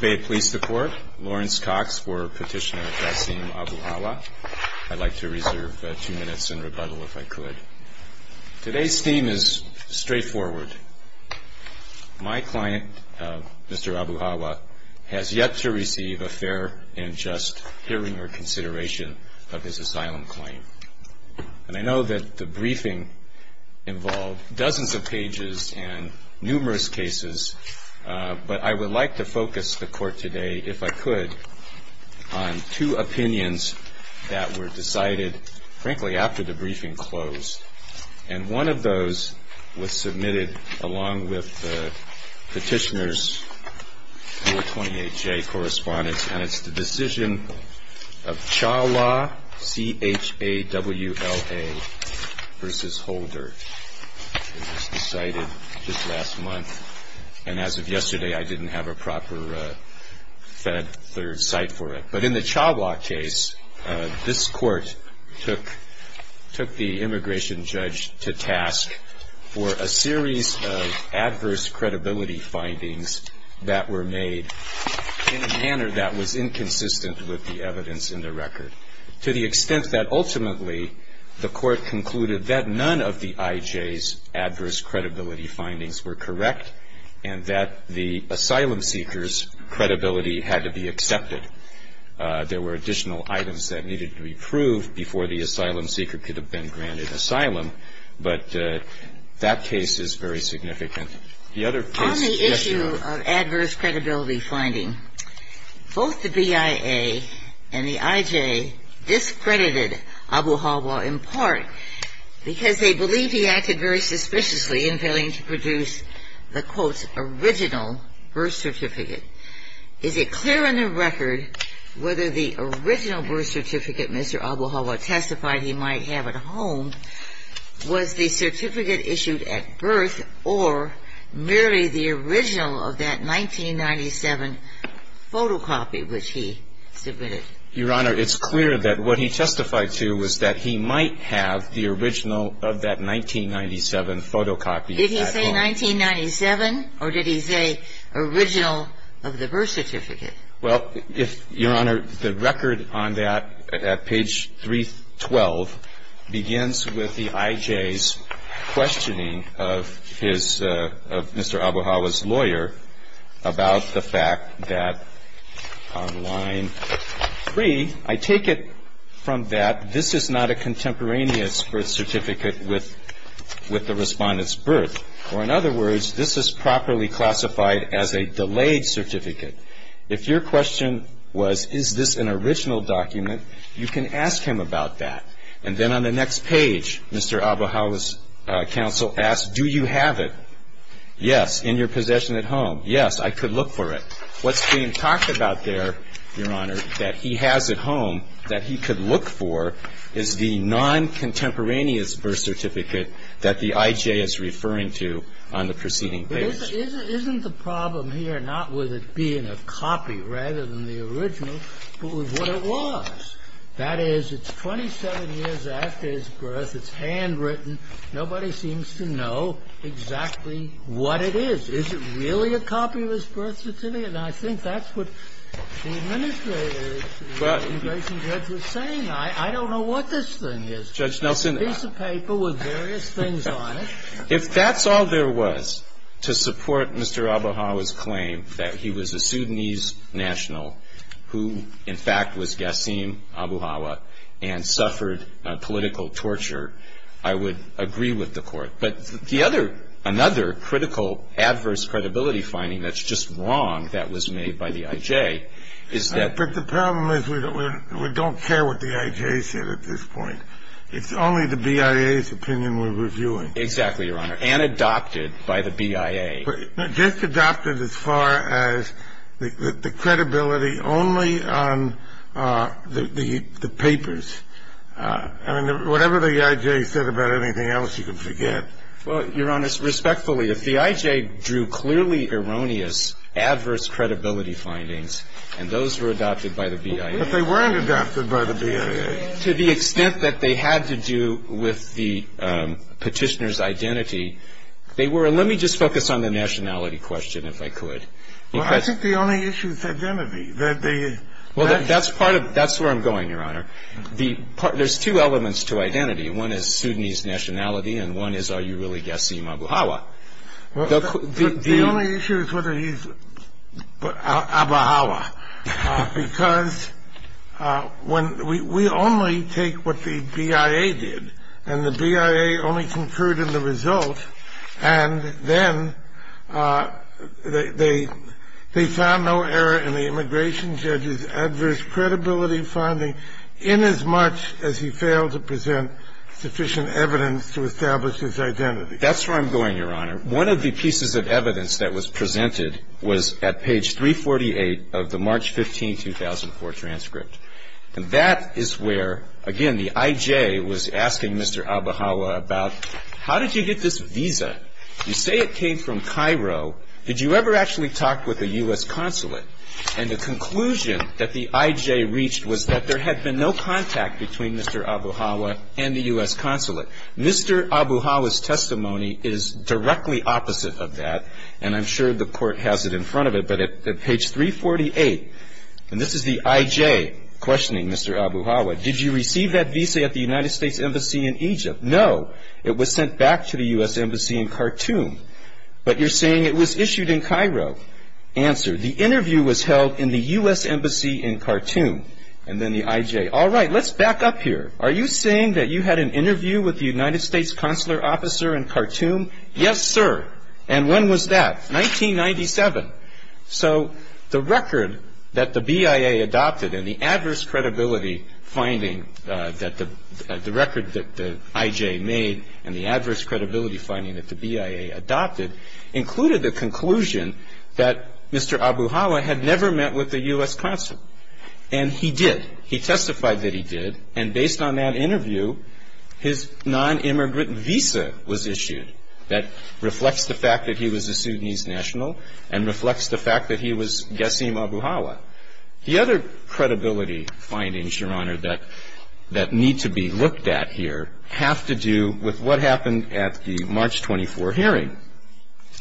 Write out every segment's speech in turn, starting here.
May it please the Court, Lawrence Cox for Petitioner Jassim Abuhawa. I'd like to reserve two minutes in rebuttal if I could. Today's theme is straightforward. My client, Mr. Abuhawa, has yet to receive a fair and just hearing or consideration of his asylum claim. And I know that the briefing involved dozens of pages and numerous cases, but I would like to focus the Court today, if I could, on two opinions that were decided, frankly, after the briefing closed. And one of those was submitted along with the Petitioner's 028-J correspondence, and it's the decision of Chawla, C-H-A-W-L-A, v. Holder. It was decided just to have a proper Fed Third Cite for it. But in the Chawla case, this Court took the immigration judge to task for a series of adverse credibility findings that were made in a manner that was inconsistent with the evidence in the record, to the extent that ultimately the Court concluded that none of the I.J.'s adverse credibility findings were correct and that the asylum seeker's credibility had to be accepted. There were additional items that needed to be proved before the asylum seeker could have been granted asylum, but that case is very significant. The other case was the case of Abuhawa, C-H-A-W-L-A, v. Chawla, C-H-A-W-L-A. Because they believed he acted very suspiciously in failing to produce the, quote, original birth certificate, is it clear in the record whether the original birth certificate Mr. Abuhawa testified he might have at home was the certificate issued at birth or merely the original of that 1997 photocopy which he submitted? Your Honor, it's clear that what he testified to was that he might have the original of that 1997 photocopy at home. Did he say 1997 or did he say original of the birth certificate? Well, if, Your Honor, the record on that at page 312 begins with the I.J.'s questioning of his, of Mr. Abuhawa's lawyer about the fact that on line 312, the I.J.'s question 3, I take it from that this is not a contemporaneous birth certificate with the respondent's birth, or in other words, this is properly classified as a delayed certificate. If your question was, is this an original document, you can ask him about that. And then on the next page, Mr. Abuhawa's counsel asked, do you have it? Yes. In your possession at home? Yes. I could look for it. What's being talked about there, Your Honor, that he has at home that he could look for is the non-contemporaneous birth certificate that the I.J. is referring to on the preceding page. But isn't the problem here not with it being a copy rather than the original, but with what it was? That is, it's 27 years after his birth, it's handwritten, nobody seems to know exactly what it is. Is it really a copy of his birth certificate? Now, I think that's what the administration judge was saying. I don't know what this thing is. Judge Nelson. A piece of paper with various things on it. If that's all there was to support Mr. Abuhawa's claim that he was a Sudanese national who, in fact, was Ghassim Abuhawa and suffered political torture, I would agree with the Court. But the other, another critical adverse credibility finding that's just wrong that was made by the I.J. is that But the problem is we don't care what the I.J. said at this point. It's only the BIA's opinion we're reviewing. Exactly, Your Honor. And adopted by the BIA. Just adopted as far as the credibility only on the papers. I mean, whatever the I.J. said about anything else, you can forget. Well, Your Honor, respectfully, if the I.J. drew clearly erroneous adverse credibility findings, and those were adopted by the BIA. But they weren't adopted by the BIA. To the extent that they had to do with the petitioner's identity, they were. Let me just focus on the nationality question, if I could. Well, I think the only issue is identity. That the. Well, that's part of, that's where I'm going, Your Honor. The part, there's two elements to identity. One is Sudanese nationality, and one is, are you really guessing Mabuhaywa? The only issue is whether he's Mabuhaywa, because when we only take what the BIA did and the BIA only concurred in the result. And then they found no error in the immigration judge's adverse credibility finding in as much as he failed to present sufficient evidence to establish his identity. That's where I'm going, Your Honor. One of the pieces of evidence that was presented was at page 348 of the March 15, 2004 transcript. And that is where, again, the IJ was asking Mr. Mabuhaywa about, how did you get this visa? You say it came from Cairo. Did you ever actually talk with a U.S. consulate? And the conclusion that the IJ reached was that there had been no contact between Mr. Mabuhaywa and the U.S. consulate. Mr. Mabuhaywa's testimony is directly opposite of that, and I'm sure the court has it in front of it. But at page 348, and this is the IJ questioning Mr. Mabuhaywa, did you receive that visa at the United States Embassy in Egypt? No, it was sent back to the U.S. Embassy in Khartoum. But you're saying it was issued in Cairo. Answer, the interview was held in the U.S. Embassy in Khartoum. And then the IJ, all right, let's back up here. Are you saying that you had an interview with the United States consular officer in Khartoum? Yes, sir. And when was that? 1997. So the record that the BIA adopted, and the adverse credibility finding that the record that the IJ made, and the adverse credibility finding that the BIA adopted, included the conclusion that Mr. Mabuhaywa had never met with the U.S. consulate. And he did. He testified that he did. And based on that interview, his non-immigrant visa was issued. That reflects the fact that he was a Sudanese national, and reflects the fact that he was Yassim Mabuhaywa. The other credibility findings, Your Honor, that need to be looked at here have to do with what happened at the March 24 hearing.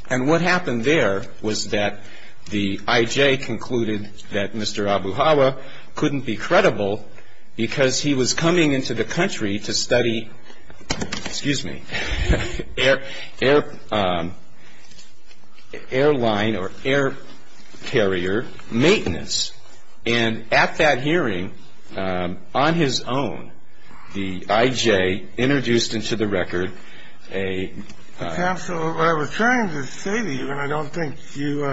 And what happened there was that the IJ concluded that Mr. Mabuhaywa couldn't be credible because he was coming into the country to study, excuse me, air airline or air carrier maintenance. And at that hearing, on his own, the IJ introduced into the record a- Counsel, what I was trying to say to you, and I don't think you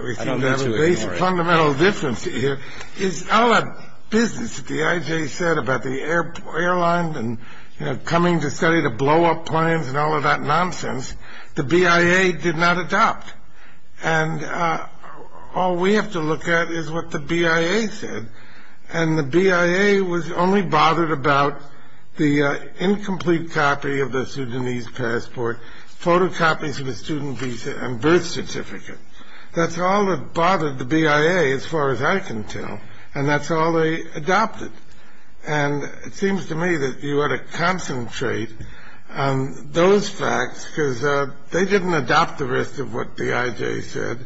received a fundamental difference here, is all that business that the IJ said about the airline and coming to study to blow up planes and all of that nonsense, the BIA did not adopt. And all we have to look at is what the BIA said. And the BIA was only bothered about the incomplete copy of the Sudanese passport, photocopies of his student visa and birth certificate. That's all that bothered the BIA, as far as I can tell. And that's all they adopted. And it seems to me that you ought to concentrate on those facts because they didn't adopt the rest of what the IJ said.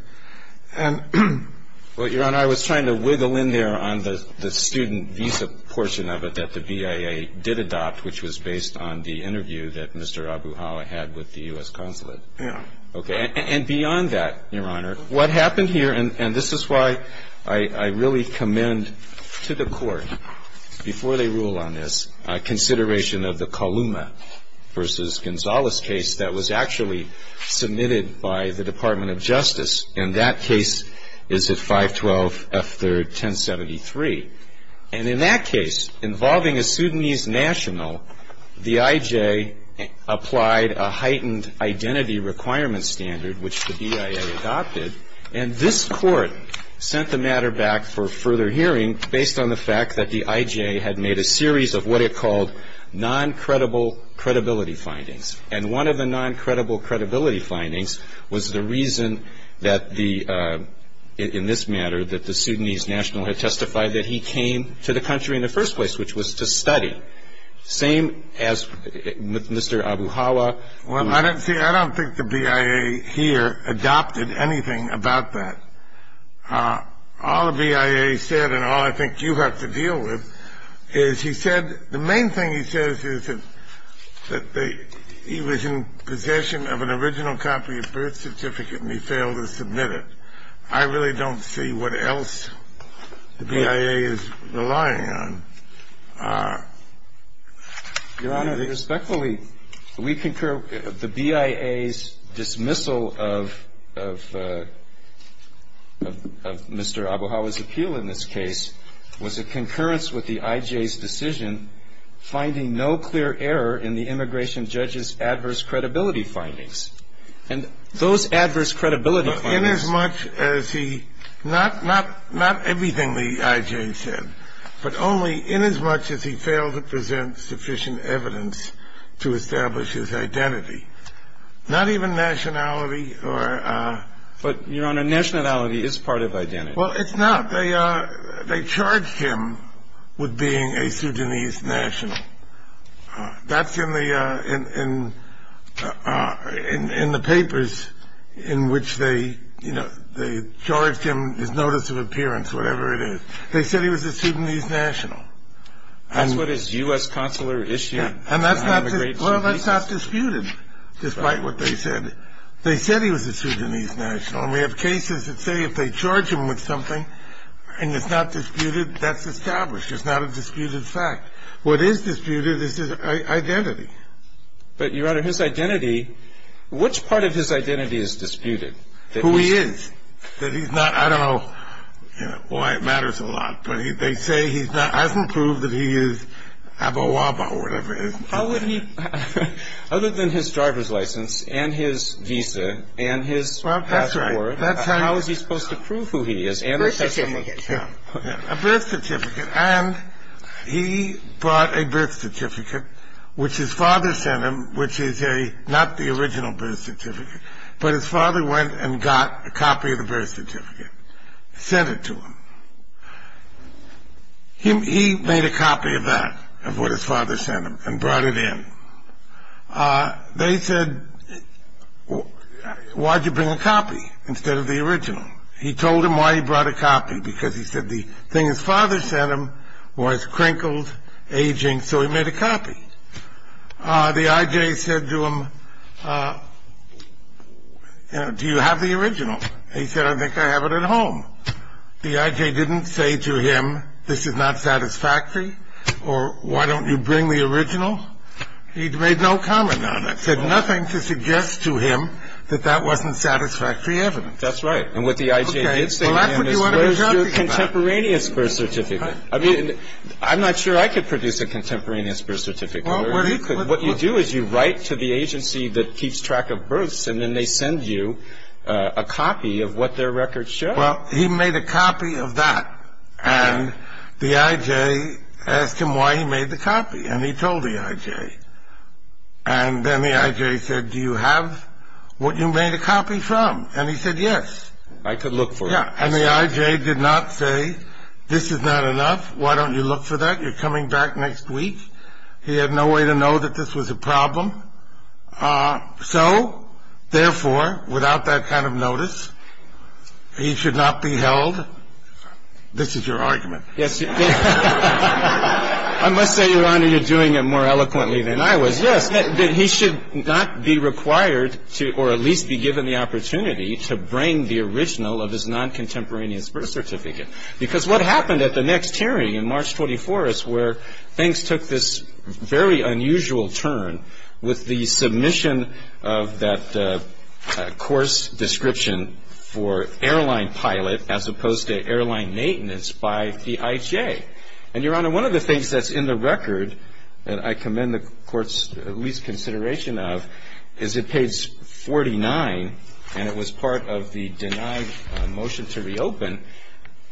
And- Well, Your Honor, I was trying to wiggle in there on the student visa portion of it that the BIA did adopt, which was based on the interview that Mr. Mabuhaywa had with the U.S. consulate. Yeah. Okay. And beyond that, Your Honor, what happened here, and this is why I really commend to the court, before they rule on this, consideration of the Kaluma versus Gonzalez case that was actually submitted by the Department of Justice. And that case is at 512 F3rd 1073. And in that case, involving a Sudanese national, the IJ applied a heightened identity requirement standard, which the BIA adopted. And this court sent the matter back for further hearing, based on the fact that the IJ had made a series of what it called non-credible credibility findings. And one of the non-credible credibility findings was the reason that the- that he came to the country in the first place, which was to study. Same as Mr. Mabuhaywa. Well, I don't see- I don't think the BIA here adopted anything about that. All the BIA said, and all I think you have to deal with, is he said- the main thing he says is that he was in possession of an original copy of birth certificate and he failed to submit it. I really don't see what else the BIA is relying on. Your Honor, respectfully, we concur. The BIA's dismissal of Mr. Mabuhaywa's appeal in this case was a concurrence with the IJ's decision finding no clear error in the immigration judge's adverse credibility findings. And those adverse credibility findings- In as much as he- not everything the IJ said, but only in as much as he failed to present sufficient evidence to establish his identity. Not even nationality or- But, Your Honor, nationality is part of identity. Well, it's not. They charged him with being a Sudanese national. That's in the papers in which they charged him, his notice of appearance, whatever it is. They said he was a Sudanese national. That's what his U.S. consular issued. Well, that's not disputed, despite what they said. They said he was a Sudanese national, and we have cases that say if they charge him with something, and it's not disputed, that's established, it's not a disputed fact. What is disputed is his identity. But, Your Honor, his identity- which part of his identity is disputed? Who he is. That he's not- I don't know why it matters a lot. But they say he's not- hasn't proved that he is abawaba or whatever it is. How would he- other than his driver's license and his visa and his passport- Well, that's right. How is he supposed to prove who he is? A birth certificate. A birth certificate. And he brought a birth certificate, which his father sent him, which is not the original birth certificate, but his father went and got a copy of the birth certificate, sent it to him. He made a copy of that, of what his father sent him, and brought it in. They said, why'd you bring a copy instead of the original? He told him why he brought a copy, because he said the thing his father sent him was crinkled, aging, so he made a copy. The I.J. said to him, do you have the original? He said, I think I have it at home. The I.J. didn't say to him, this is not satisfactory, or why don't you bring the original? He made no comment on it, said nothing to suggest to him that that wasn't satisfactory evidence. That's right. And what the I.J. did say to him is, where's your contemporaneous birth certificate? I mean, I'm not sure I could produce a contemporaneous birth certificate. What you do is you write to the agency that keeps track of births, and then they send you a copy of what their records show. Well, he made a copy of that, and the I.J. asked him why he made the copy, and he told the I.J. And then the I.J. said, do you have what you made a copy from? And he said, yes. I could look for it. And the I.J. did not say, this is not enough, why don't you look for that, you're coming back next week. He had no way to know that this was a problem. So, therefore, without that kind of notice, he should not be held. This is your argument. Yes. I must say, Your Honor, you're doing it more eloquently than I was. Yes, that he should not be required to, or at least be given the opportunity, to bring the original of his non-contemporaneous birth certificate. Because what happened at the next hearing, in March 24th, is where things took this very unusual turn, with the submission of that course description for airline pilot, as opposed to airline maintenance, by the I.J. And, Your Honor, one of the things that's in the record, that I commend the Court's least consideration of, is at page 49, and it was part of the denied motion to reopen,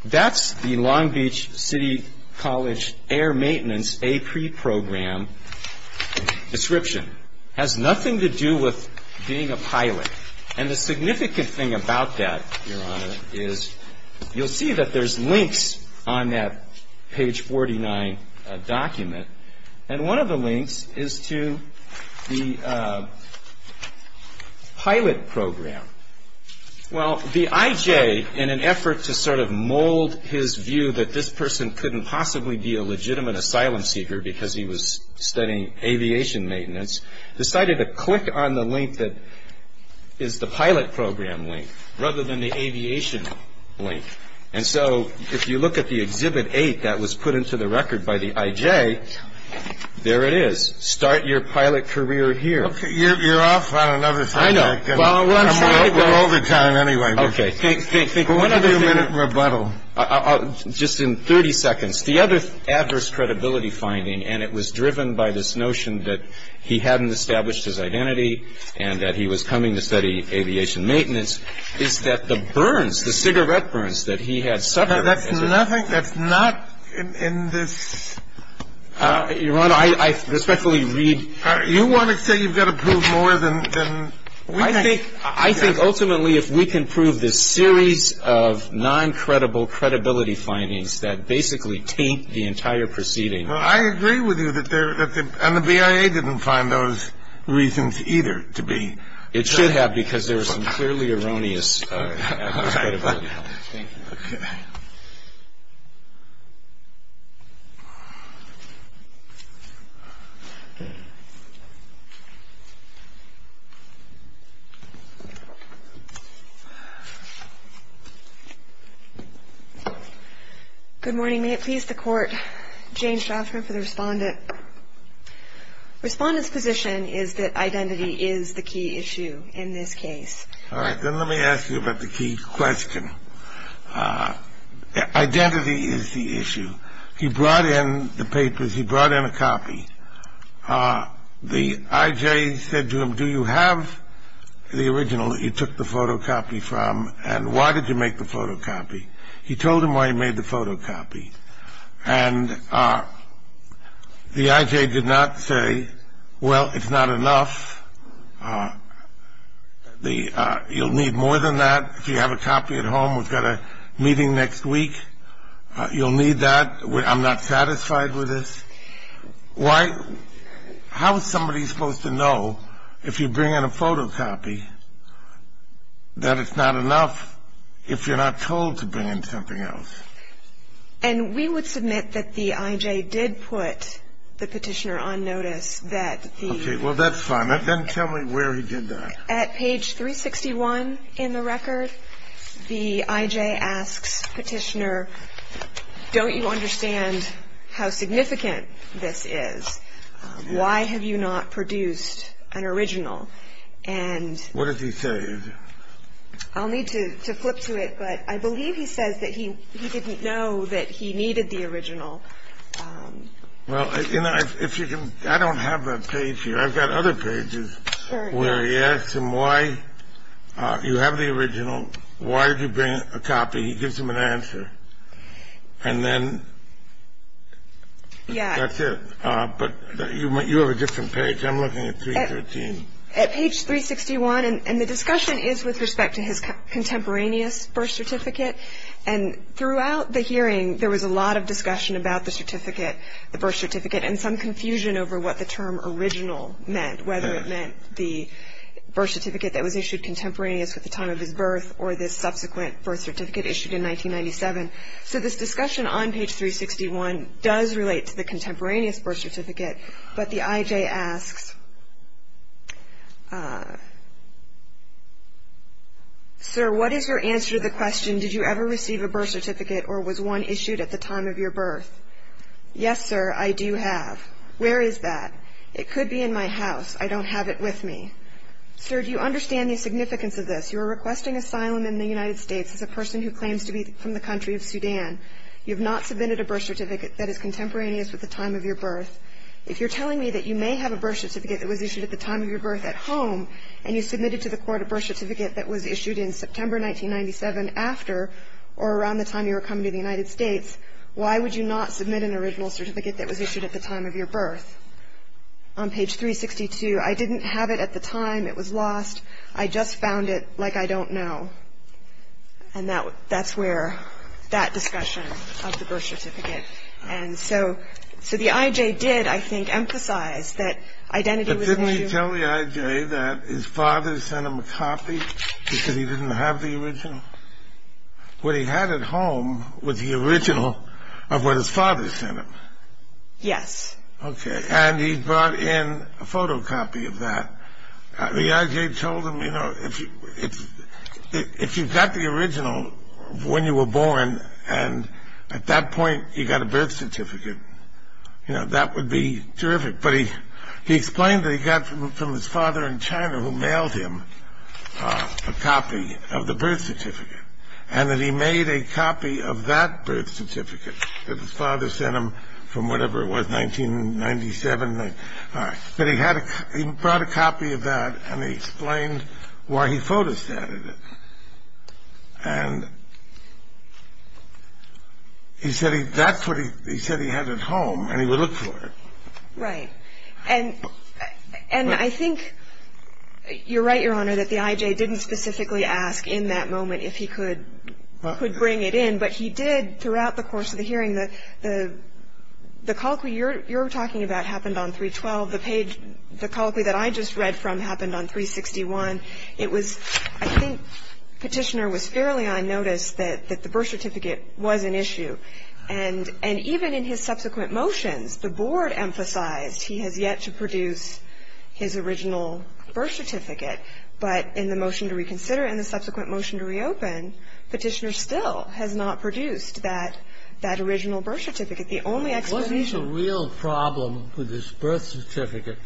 that's the Long Beach City College Air Maintenance A-Pre Program description. It has nothing to do with being a pilot. And the significant thing about that, Your Honor, is you'll see that there's links on that page 49 document. And one of the links is to the pilot program. Well, the I.J., in an effort to sort of mold his view that this person couldn't possibly be a legitimate asylum seeker, because he was studying aviation maintenance, decided to click on the link that is the pilot program link, rather than the aviation link. And so, if you look at the Exhibit 8 that was put into the record by the I.J., there it is. Start your pilot career here. You're off on another subject. I know. We're over time, anyway. Think, think, think. One other thing. A few-minute rebuttal. Just in 30 seconds. The other adverse credibility finding, and it was driven by this notion that he hadn't established his identity and that he was coming to study aviation maintenance, is that the burns, the cigarette burns that he had suffered- That's nothing. That's not in this- Your Honor, I respectfully read- You want to say you've got to prove more than- I think, ultimately, if we can prove this series of non-credible credibility findings that basically taint the entire proceeding- Well, I agree with you that there- and the BIA didn't find those reasons either to be- It should have, because there was some clearly erroneous adverse credibility findings. Thank you. Good morning. May it please the Court. Jane Shoffrin for the Respondent. Respondent's position is that identity is the key issue in this case. All right, then let me ask you about the key question. Identity is the issue. He brought in the papers. He brought in a copy. The I.J. said to him, do you have the original that you took the photocopy from, and why did you make the photocopy? He told him why he made the photocopy, and the I.J. did not say, well, it's not enough. You'll need more than that if you have a copy at home. We've got a meeting next week. You'll need that. I'm not satisfied with this. How is somebody supposed to know if you bring in a photocopy that it's not enough if you're not told to bring in something else? And we would submit that the I.J. did put the petitioner on notice that the- Well, that's fine. Then tell me where he did that. At page 361 in the record, the I.J. asks Petitioner, don't you understand how significant this is? Why have you not produced an original? And- What does he say? I'll need to flip to it, but I believe he says that he didn't know that he needed the original. Well, if you can-I don't have that page here. I've got other pages where he asks him why-you have the original. Why did you bring a copy? He gives him an answer. And then that's it. But you have a different page. I'm looking at 313. At page 361, and the discussion is with respect to his contemporaneous birth certificate, and throughout the hearing, there was a lot of discussion about the certificate, the birth certificate, and some confusion over what the term original meant, whether it meant the birth certificate that was issued contemporaneous with the time of his birth or this subsequent birth certificate issued in 1997. So this discussion on page 361 does relate to the contemporaneous birth certificate. But the I.J. asks, sir, what is your answer to the question, did you ever receive a birth certificate or was one issued at the time of your birth? Yes, sir, I do have. Where is that? It could be in my house. I don't have it with me. Sir, do you understand the significance of this? You are requesting asylum in the United States as a person who claims to be from the country of Sudan. You have not submitted a birth certificate that is contemporaneous with the time of your birth. If you're telling me that you may have a birth certificate that was issued at the time of your birth at home and you submitted to the court a birth certificate that was issued in September 1997 after or around the time you were coming to the United States, why would you not submit an original certificate that was issued at the time of your birth? On page 362, I didn't have it at the time. It was lost. I just found it like I don't know. And that's where that discussion of the birth certificate. And so the I.J. did, I think, emphasize that identity was an issue. Did he tell the I.J. that his father sent him a copy because he didn't have the original? What he had at home was the original of what his father sent him. Yes. Okay. And he brought in a photocopy of that. The I.J. told him, you know, if you got the original when you were born and at that point you got a birth certificate, you know, that would be terrific. But he explained that he got from his father in China who mailed him a copy of the birth certificate and that he made a copy of that birth certificate that his father sent him from whatever it was, 1997. But he brought a copy of that and he explained why he photostatted it. And he said that's what he said he had at home and he would look for it. Right. And I think you're right, Your Honor, that the I.J. didn't specifically ask in that moment if he could bring it in. But he did throughout the course of the hearing. The colloquy you're talking about happened on 312. The page, the colloquy that I just read from happened on 361. It was, I think Petitioner was fairly unnoticed that the birth certificate was an issue. And even in his subsequent motions, the board emphasized he has yet to produce his original birth certificate. But in the motion to reconsider and the subsequent motion to reopen, Petitioner still has not produced that original birth certificate. The only explanation- What is the real problem with this birth certificate?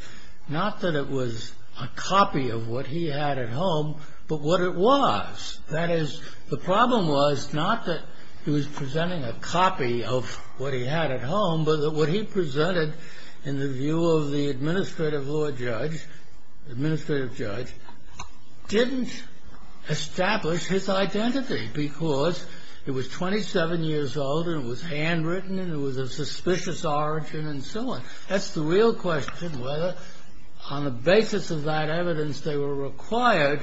Not that it was a copy of what he had at home, but what it was. That is, the problem was not that he was presenting a copy of what he had at home, but that what he presented in the view of the administrative judge didn't establish his identity. Because it was 27 years old and it was handwritten and it was of suspicious origin and so on. That's the real question, whether on the basis of that evidence they were required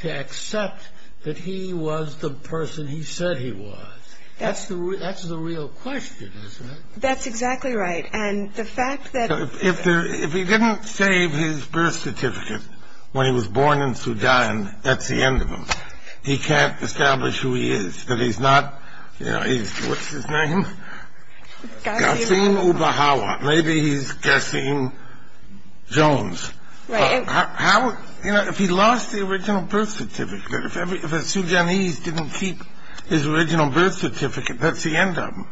to accept that he was the person he said he was. That's the real question, isn't it? That's exactly right. And the fact that- If he didn't save his birth certificate when he was born in Sudan, that's the end of him. He can't establish who he is. But he's not, you know, he's, what's his name? Gassine Ubahawa. Maybe he's Gassine Jones. Right. How, you know, if he lost the original birth certificate, if a Sudanese didn't keep his original birth certificate, that's the end of him.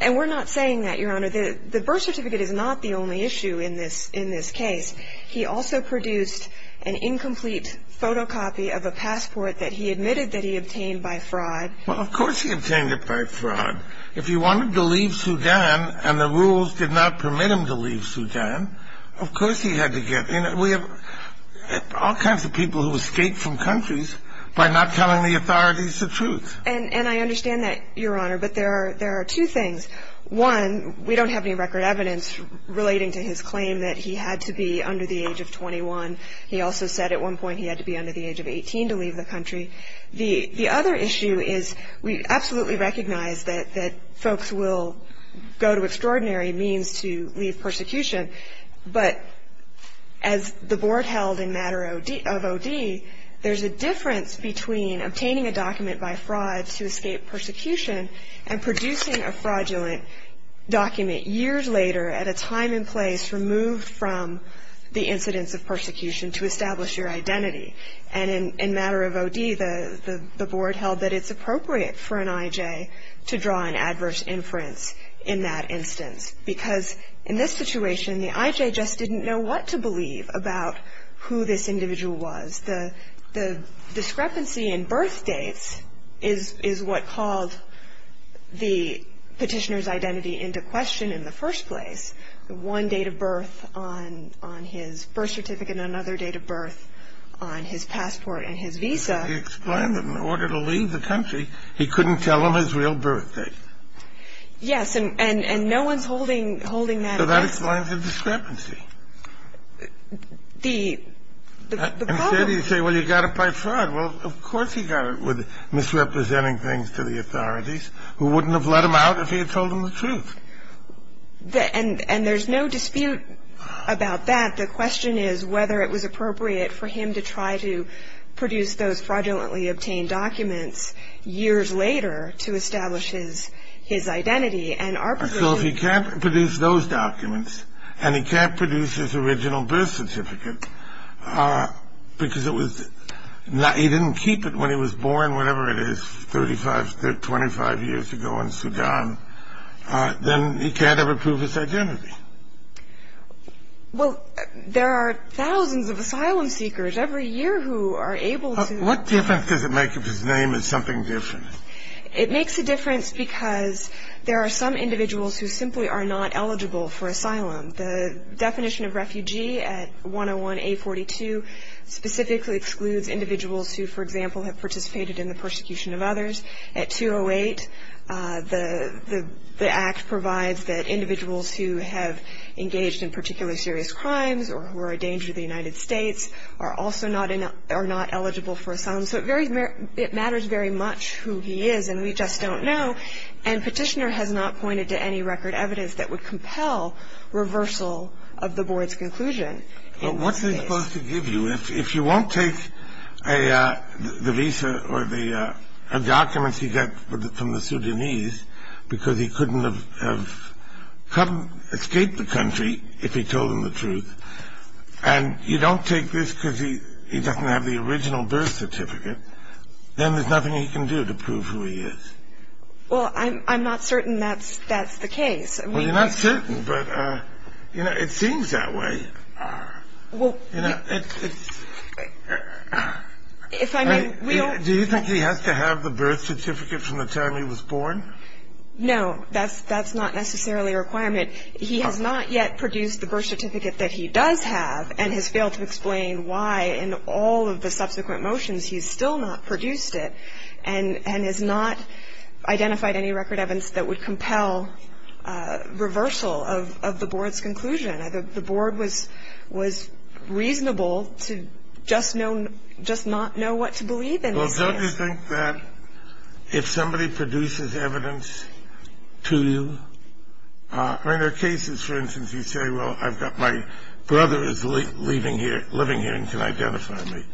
And we're not saying that, Your Honor. The birth certificate is not the only issue in this case. He also produced an incomplete photocopy of a passport that he admitted that he obtained by fraud. Well, of course he obtained it by fraud. If he wanted to leave Sudan and the rules did not permit him to leave Sudan, of course he had to get in. We have all kinds of people who escape from countries by not telling the authorities the truth. And I understand that, Your Honor, but there are two things. One, we don't have any record evidence relating to his claim that he had to be under the age of 21. He also said at one point he had to be under the age of 18 to leave the country. The other issue is we absolutely recognize that folks will go to extraordinary means to leave persecution. But as the Board held in matter of O.D., there's a difference between obtaining a document by fraud to escape persecution and producing a fraudulent document years later at a time and place removed from the incidence of persecution to establish your identity. And in matter of O.D., the Board held that it's appropriate for an I.J. to draw an adverse inference in that instance because in this situation, the I.J. just didn't know what to believe about who this individual was. The discrepancy in birth dates is what called the Petitioner's identity into question in the first place. The one date of birth on his birth certificate and another date of birth on his passport and his visa. He explained that in order to leave the country, he couldn't tell them his real birth date. Yes. And no one's holding that against him. So that explains the discrepancy. The problem — Instead, he'd say, well, you got it by fraud. Well, of course he got it with misrepresenting things to the authorities who wouldn't have let him out if he had told them the truth. And there's no dispute about that. The question is whether it was appropriate for him to try to produce those fraudulently obtained documents years later to establish his identity. So if he can't produce those documents and he can't produce his original birth certificate because he didn't keep it when he was born, whatever it is, 25 years ago in Sudan, then he can't ever prove his identity. Well, there are thousands of asylum seekers every year who are able to. What difference does it make if his name is something different? It makes a difference because there are some individuals who simply are not eligible for asylum. The definition of refugee at 101A42 specifically excludes individuals who, for example, have participated in the persecution of others. At 208, the Act provides that individuals who have engaged in particularly serious crimes or who are a danger to the United States are also not eligible for asylum. So it matters very much who he is, and we just don't know. And Petitioner has not pointed to any record evidence that would compel reversal of the board's conclusion. What's it supposed to give you? If you won't take the visa or the documents he got from the Sudanese because he couldn't have escaped the country if he told them the truth, and you don't take this because he doesn't have the original birth certificate, then there's nothing he can do to prove who he is. Well, I'm not certain that's the case. Well, you're not certain, but, you know, it seems that way. Do you think he has to have the birth certificate from the time he was born? No, that's not necessarily a requirement. He has not yet produced the birth certificate that he does have and has failed to explain why in all of the subsequent motions he's still not produced it and has not identified any record evidence that would compel reversal of the board's conclusion. The board was reasonable to just not know what to believe in this case. Well, don't you think that if somebody produces evidence to you ñ I mean, there are cases, for instance, you say, well, I've got my brother is living here and can identify me.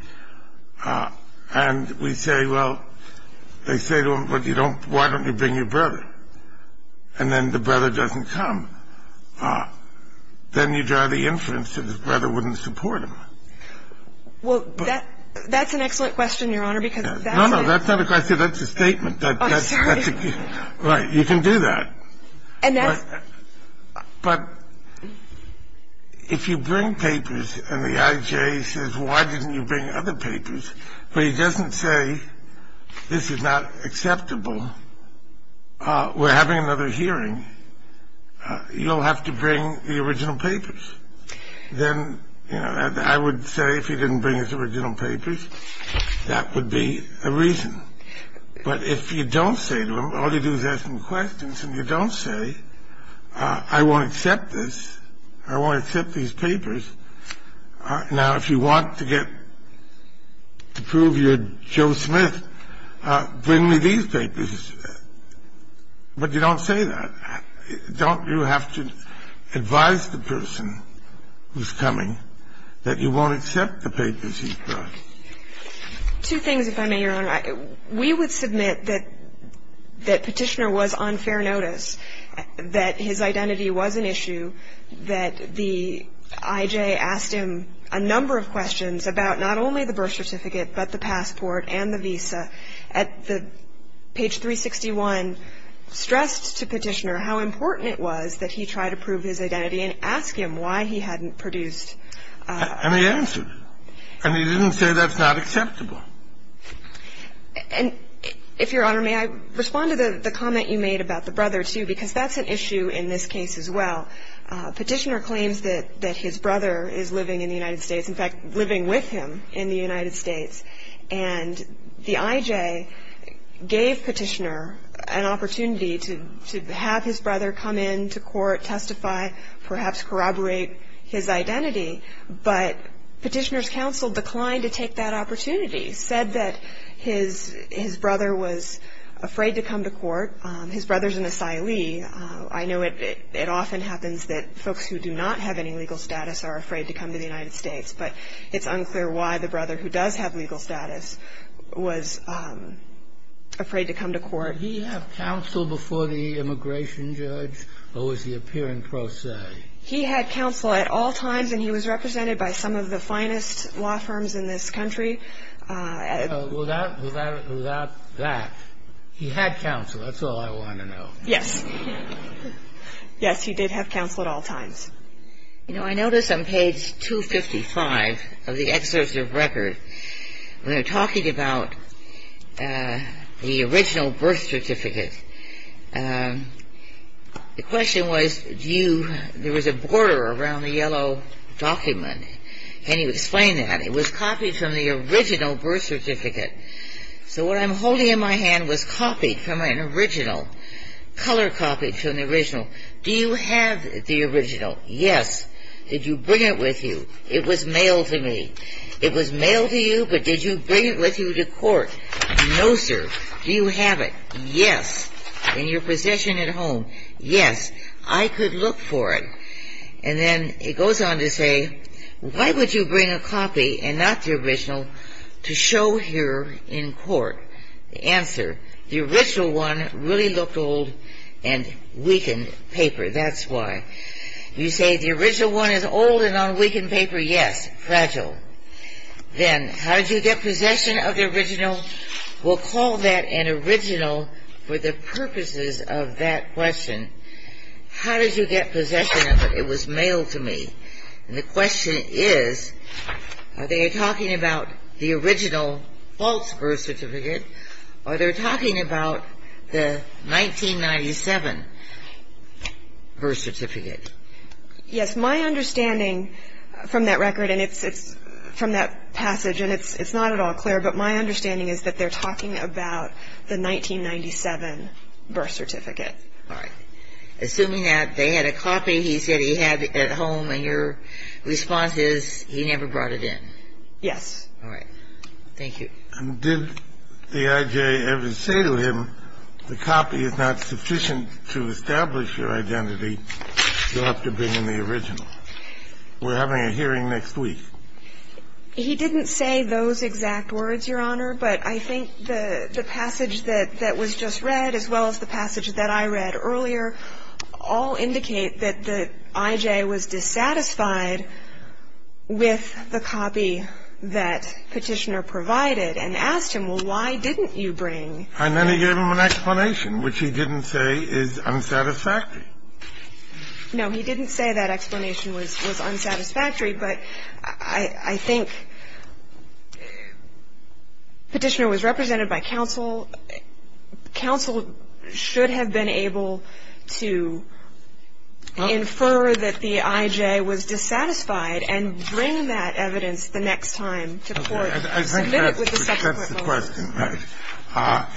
And we say, well, they say to him, well, why don't you bring your brother? And then the brother doesn't come. Then you draw the inference that his brother wouldn't support him. Well, that's an excellent question, Your Honor, because that's it. No, no, that's not a question. That's a statement. I'm sorry. Right. You can do that. But if you bring papers and the IJ says, well, why didn't you bring other papers, but he doesn't say this is not acceptable, we're having another hearing, you'll have to bring the original papers. Then, you know, I would say if he didn't bring his original papers, that would be a reason. But if you don't say to him, all you do is ask him questions and you don't say, I won't accept this. I won't accept these papers. Now, if you want to get ñ to prove you're Joe Smith, bring me these papers. But you don't say that. Don't you have to advise the person who's coming that you won't accept the papers he brought? Two things, if I may, Your Honor. We would submit that Petitioner was on fair notice, that his identity was an issue, that the IJ asked him a number of questions about not only the birth certificate, but the passport and the visa. Page 361 stressed to Petitioner how important it was that he try to prove his identity and ask him why he hadn't produced. And he answered. And he didn't say that's not acceptable. And, if Your Honor, may I respond to the comment you made about the brother, too? Because that's an issue in this case as well. Petitioner claims that his brother is living in the United States, in fact, living with him in the United States. And the IJ gave Petitioner an opportunity to have his brother come in to court, testify, perhaps corroborate his identity. But Petitioner's counsel declined to take that opportunity, said that his brother was afraid to come to court. His brother's an asylee. I know it often happens that folks who do not have any legal status are afraid to come to the United States. But it's unclear why the brother who does have legal status was afraid to come to court. Did he have counsel before the immigration judge, or was he appearing pro se? He had counsel at all times, and he was represented by some of the finest law firms in this country. Without that, he had counsel. That's all I want to know. Yes. Yes, he did have counsel at all times. You know, I notice on page 255 of the excerpt of record, when they're talking about the original birth certificate, the question was, do you, there was a border around the yellow document. Can you explain that? It was copied from the original birth certificate. So what I'm holding in my hand was copied from an original, color copied from the original. Do you have the original? Yes. Did you bring it with you? It was mailed to me. It was mailed to you, but did you bring it with you to court? No, sir. Do you have it? Yes. In your possession at home? Yes. I could look for it. And then it goes on to say, why would you bring a copy and not the original to show here in court? The answer, the original one really looked old and weakened paper. That's why. You say the original one is old and on weakened paper? Yes. Fragile. Then how did you get possession of the original? We'll call that an original for the purposes of that question. How did you get possession of it? It was mailed to me. And the question is, are they talking about the original false birth certificate, or they're talking about the 1997 birth certificate? Yes. My understanding from that record and from that passage, and it's not at all clear, but my understanding is that they're talking about the 1997 birth certificate. All right. Assuming that they had a copy he said he had at home, and your response is he never brought it in? Yes. All right. Thank you. Did the I.J. ever say to him, the copy is not sufficient to establish your identity, you'll have to bring in the original? We're having a hearing next week. He didn't say those exact words, Your Honor, but I think the passage that was just read, as well as the passage that I read earlier, all indicate that the I.J. was dissatisfied with the copy that Petitioner provided and asked him, well, why didn't you bring? And then he gave him an explanation, which he didn't say is unsatisfactory. No, he didn't say that explanation was unsatisfactory, but I think Petitioner was represented by counsel. Counsel should have been able to infer that the I.J. was dissatisfied and bring that evidence the next time to court. I think that's the question.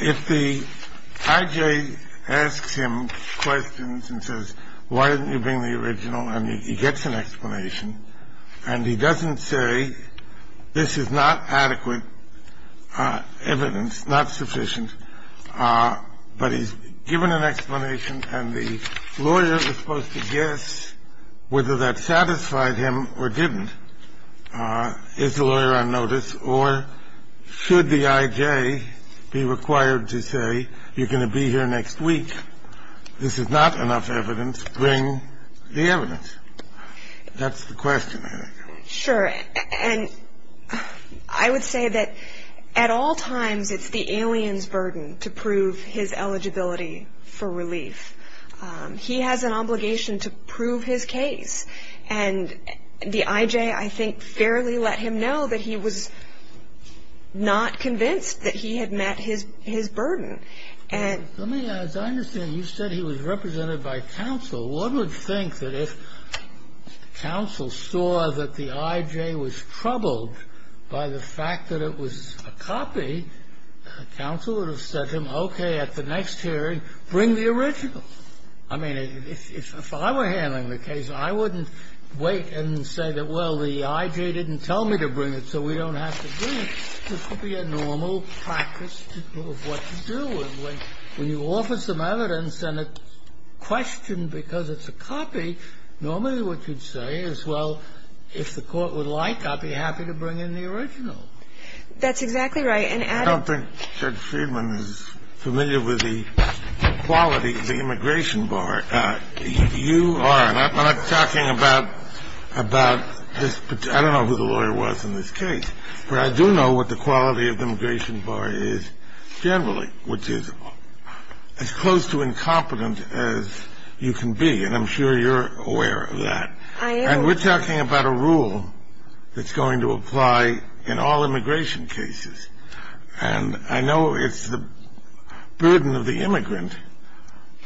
If the I.J. asks him questions and says, why didn't you bring the original, and he gets an explanation and he doesn't say this is not adequate evidence, not sufficient, but he's given an explanation and the lawyer is supposed to guess whether that satisfied him or didn't, is the lawyer on notice? Or should the I.J. be required to say you're going to be here next week, this is not enough evidence, bring the evidence? That's the question, I think. Sure. And I would say that at all times it's the alien's burden to prove his eligibility for relief. He has an obligation to prove his case. And the I.J., I think, fairly let him know that he was not convinced that he had met his burden. And as I understand, you said he was represented by counsel. One would think that if counsel saw that the I.J. was troubled by the fact that it was a copy, counsel would have said to him, okay, at the next hearing, bring the original. I mean, if I were handling the case, I wouldn't wait and say that, well, the I.J. didn't tell me to bring it, so we don't have to do it. This would be a normal practice of what to do. When you offer some evidence and it's questioned because it's a copy, normally what you'd say is, well, if the Court would like, I'd be happy to bring in the original. That's exactly right. And adding to that, I don't think Judge Friedman is familiar with the quality of the immigration bar. You are. And I'm not talking about this particular – I don't know who the lawyer was in this case. But I do know what the quality of the immigration bar is generally, which is as close to incompetent as you can be. And I'm sure you're aware of that. I am. And we're talking about a rule that's going to apply in all immigration cases. And I know it's the burden of the immigrant,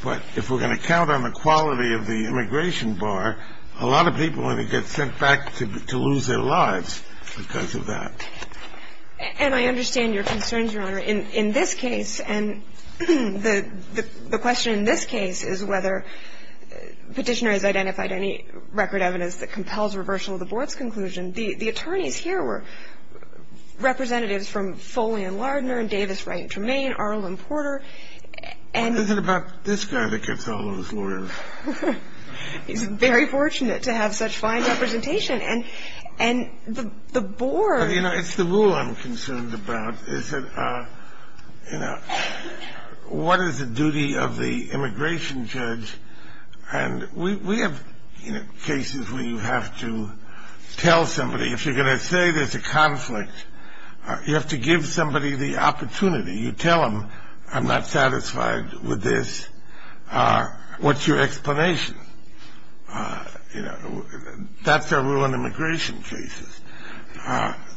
but if we're going to count on the quality of the immigration bar, a lot of people are going to get sent back to lose their lives because of that. And I understand your concerns, Your Honor. In this case, and the question in this case is whether Petitioner has identified any record evidence that compels reversal of the Board's conclusion. The attorneys here were representatives from Foley and Lardner and Davis, Wright, Tremaine, Arlen, Porter. What is it about this guy that gets all those lawyers? He's very fortunate to have such fine representation. And the Board – You know, it's the rule I'm concerned about is that, you know, what is the duty of the immigration judge? And we have, you know, cases where you have to tell somebody, if you're going to say there's a conflict, you have to give somebody the opportunity. You tell them, I'm not satisfied with this. What's your explanation? You know, that's the rule in immigration cases,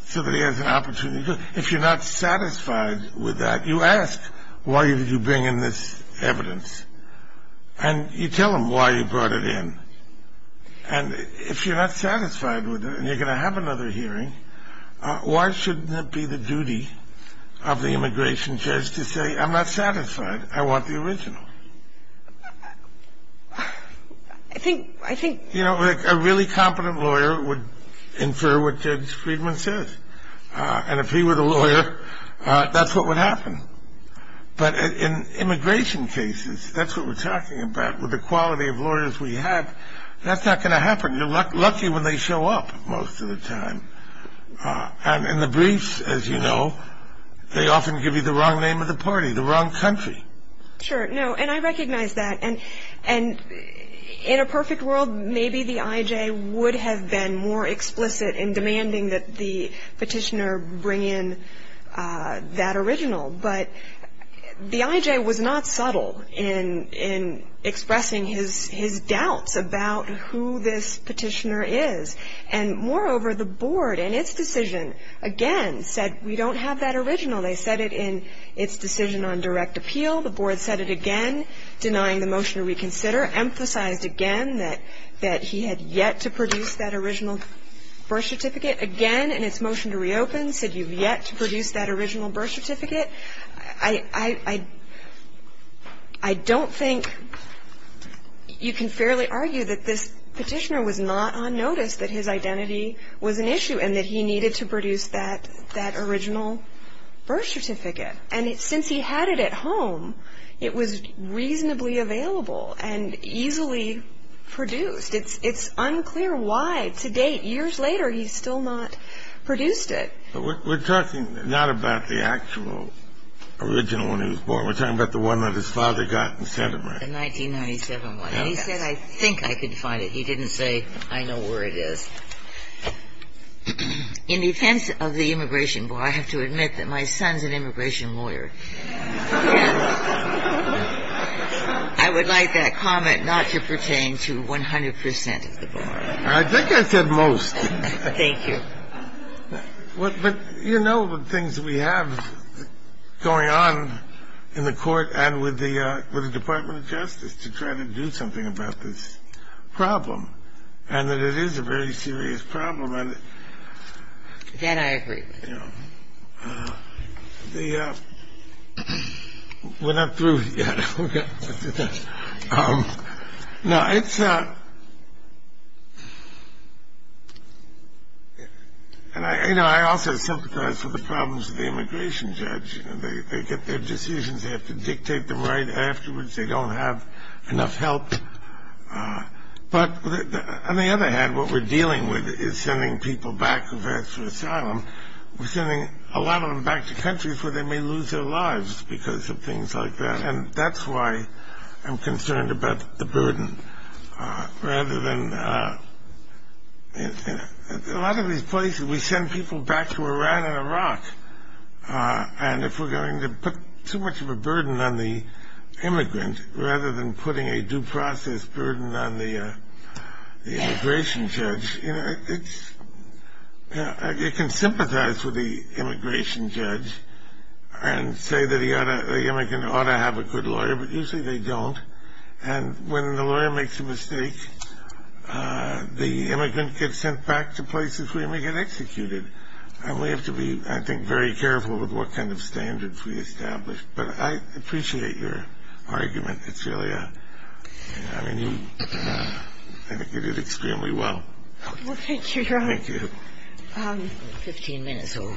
so that he has an opportunity. If you're not satisfied with that, you ask, why did you bring in this evidence? And you tell him why you brought it in. And if you're not satisfied with it and you're going to have another hearing, why shouldn't it be the duty of the immigration judge to say, I'm not satisfied, I want the original? I think – I think – You know, a really competent lawyer would infer what Judge Friedman says. And if he were the lawyer, that's what would happen. But in immigration cases, that's what we're talking about. With the quality of lawyers we have, that's not going to happen. You're lucky when they show up most of the time. And in the briefs, as you know, they often give you the wrong name of the party, the wrong country. Sure, no, and I recognize that. And in a perfect world, maybe the IJ would have been more explicit in demanding that the petitioner bring in that original. But the IJ was not subtle in expressing his doubts about who this petitioner is. And moreover, the board, in its decision, again, said we don't have that original. They said it in its decision on direct appeal. The board said it again, denying the motion to reconsider, emphasized again that he had yet to produce that original birth certificate, saying it again in its motion to reopen, said you've yet to produce that original birth certificate. I don't think you can fairly argue that this petitioner was not on notice that his identity was an issue and that he needed to produce that original birth certificate. And since he had it at home, it was reasonably available and easily produced. It's unclear why, to date, years later, he's still not produced it. But we're talking not about the actual original one he was born with. We're talking about the one that his father got and sent him, right? The 1997 one. And he said, I think I could find it. He didn't say, I know where it is. In defense of the immigration board, I have to admit that my son's an immigration lawyer. And I would like that comment not to pertain to 100 percent of the board. I think I said most. Thank you. But you know the things we have going on in the Court and with the Department of Justice to try to do something about this problem, and that it is a very serious problem. That I agree with. We're not through yet. No, it's not. And I also sympathize with the problems of the immigration judge. They get their decisions. They have to dictate them right afterwards. They don't have enough help. But on the other hand, what we're dealing with is sending people back to asylum. We're sending a lot of them back to countries where they may lose their lives because of things like that. And that's why I'm concerned about the burden. A lot of these places, we send people back to Iran and Iraq. And if we're going to put too much of a burden on the immigrant, rather than putting a due process burden on the immigration judge, you can sympathize with the immigration judge and say that the immigrant ought to have a good lawyer, but usually they don't. And when the lawyer makes a mistake, the immigrant gets sent back to places where he may get executed. And we have to be, I think, very careful with what kind of standards we establish. But I appreciate your argument. It's really a – I mean, you – I think you did extremely well. Well, thank you, Your Honor. Thank you. Fifteen minutes old.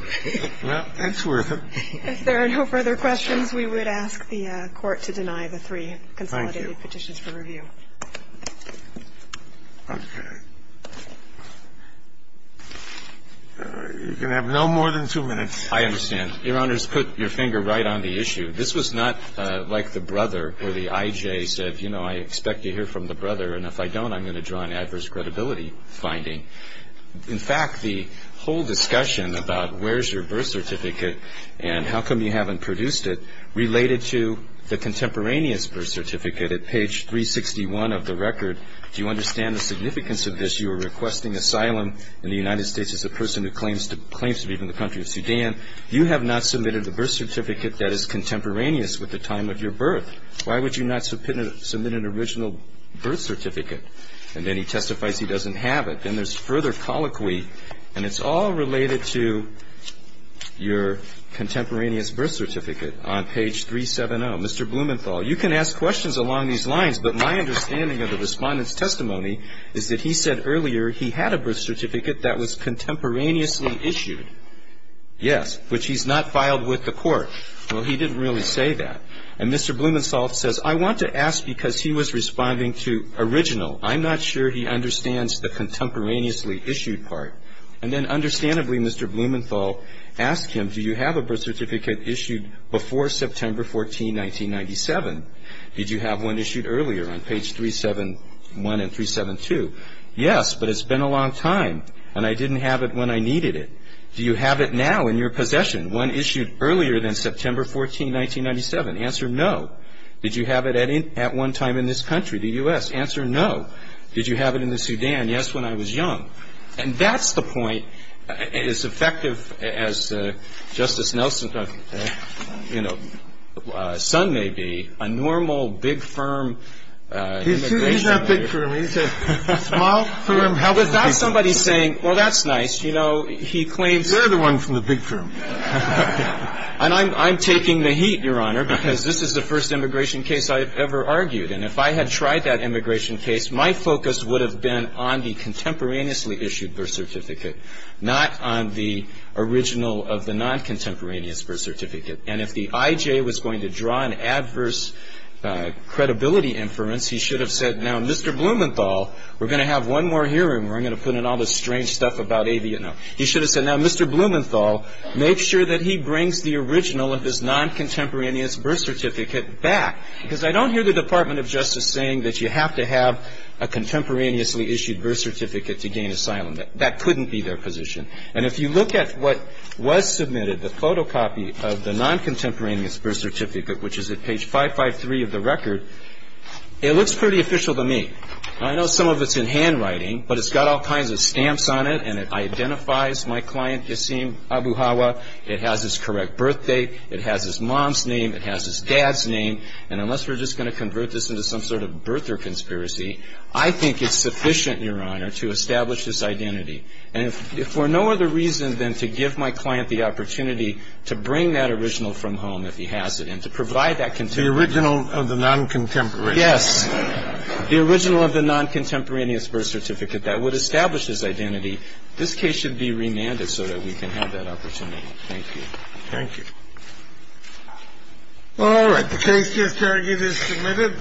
Well, it's worth it. If there are no further questions, we would ask the Court to deny the three consolidated petitions for review. Thank you. Okay. You're going to have no more than two minutes. I understand. Your Honors, put your finger right on the issue. This was not like the brother where the I.J. said, you know, I expect to hear from the brother, and if I don't, I'm going to draw an adverse credibility finding. In fact, the whole discussion about where's your birth certificate and how come you haven't produced it related to the contemporaneous birth certificate at page 361 of the record. Do you understand the significance of this? You are requesting asylum in the United States as a person who claims to be from the country of Sudan. You have not submitted a birth certificate that is contemporaneous with the time of your birth. Why would you not submit an original birth certificate? And then he testifies he doesn't have it. Then there's further colloquy, and it's all related to your contemporaneous birth certificate on page 370. Mr. Blumenthal, you can ask questions along these lines, but my understanding of the Respondent's testimony is that he said earlier he had a birth certificate that was contemporaneously issued. Yes, which he's not filed with the court. Well, he didn't really say that. And Mr. Blumenthal says, I want to ask because he was responding to original. I'm not sure he understands the contemporaneously issued part. And then understandably, Mr. Blumenthal asked him, do you have a birth certificate issued before September 14, 1997? Did you have one issued earlier on page 371 and 372? Yes, but it's been a long time, and I didn't have it when I needed it. Do you have it now in your possession, one issued earlier than September 14, 1997? Answer, no. Did you have it at one time in this country, the U.S.? Answer, no. Did you have it in the Sudan? Yes, when I was young. And that's the point. As effective as Justice Nelson's, you know, son may be, a normal, big firm immigration lawyer — He's not big firm. He's a small firm — But that's somebody saying, well, that's nice. You know, he claims — You're the one from the big firm. And I'm taking the heat, Your Honor, because this is the first immigration case I've ever argued. And if I had tried that immigration case, my focus would have been on the contemporaneously issued birth certificate, not on the original of the non-contemporaneous birth certificate. And if the I.J. was going to draw an adverse credibility inference, he should have said, now, Mr. Blumenthal, we're going to have one more hearing where I'm going to put in all this strange stuff about — No. He should have said, now, Mr. Blumenthal, make sure that he brings the original of his non-contemporaneous birth certificate back. Because I don't hear the Department of Justice saying that you have to have a contemporaneously issued birth certificate to gain asylum. That couldn't be their position. And if you look at what was submitted, the photocopy of the non-contemporaneous birth certificate, which is at page 553 of the record, it looks pretty official to me. I know some of it's in handwriting, but it's got all kinds of stamps on it, and it identifies my client, Yasim Abu Hawa. It has his correct birthday. It has his mom's name. It has his dad's name. And unless we're just going to convert this into some sort of birther conspiracy, I think it's sufficient, Your Honor, to establish this identity. And if for no other reason than to give my client the opportunity to bring that original from home, if he has it, and to provide that — The original of the non-contemporaneous. Yes. The original of the non-contemporaneous birth certificate that would establish this identity, this case should be remanded so that we can have that opportunity. Thank you. Thank you. All right. The case just argued is submitted.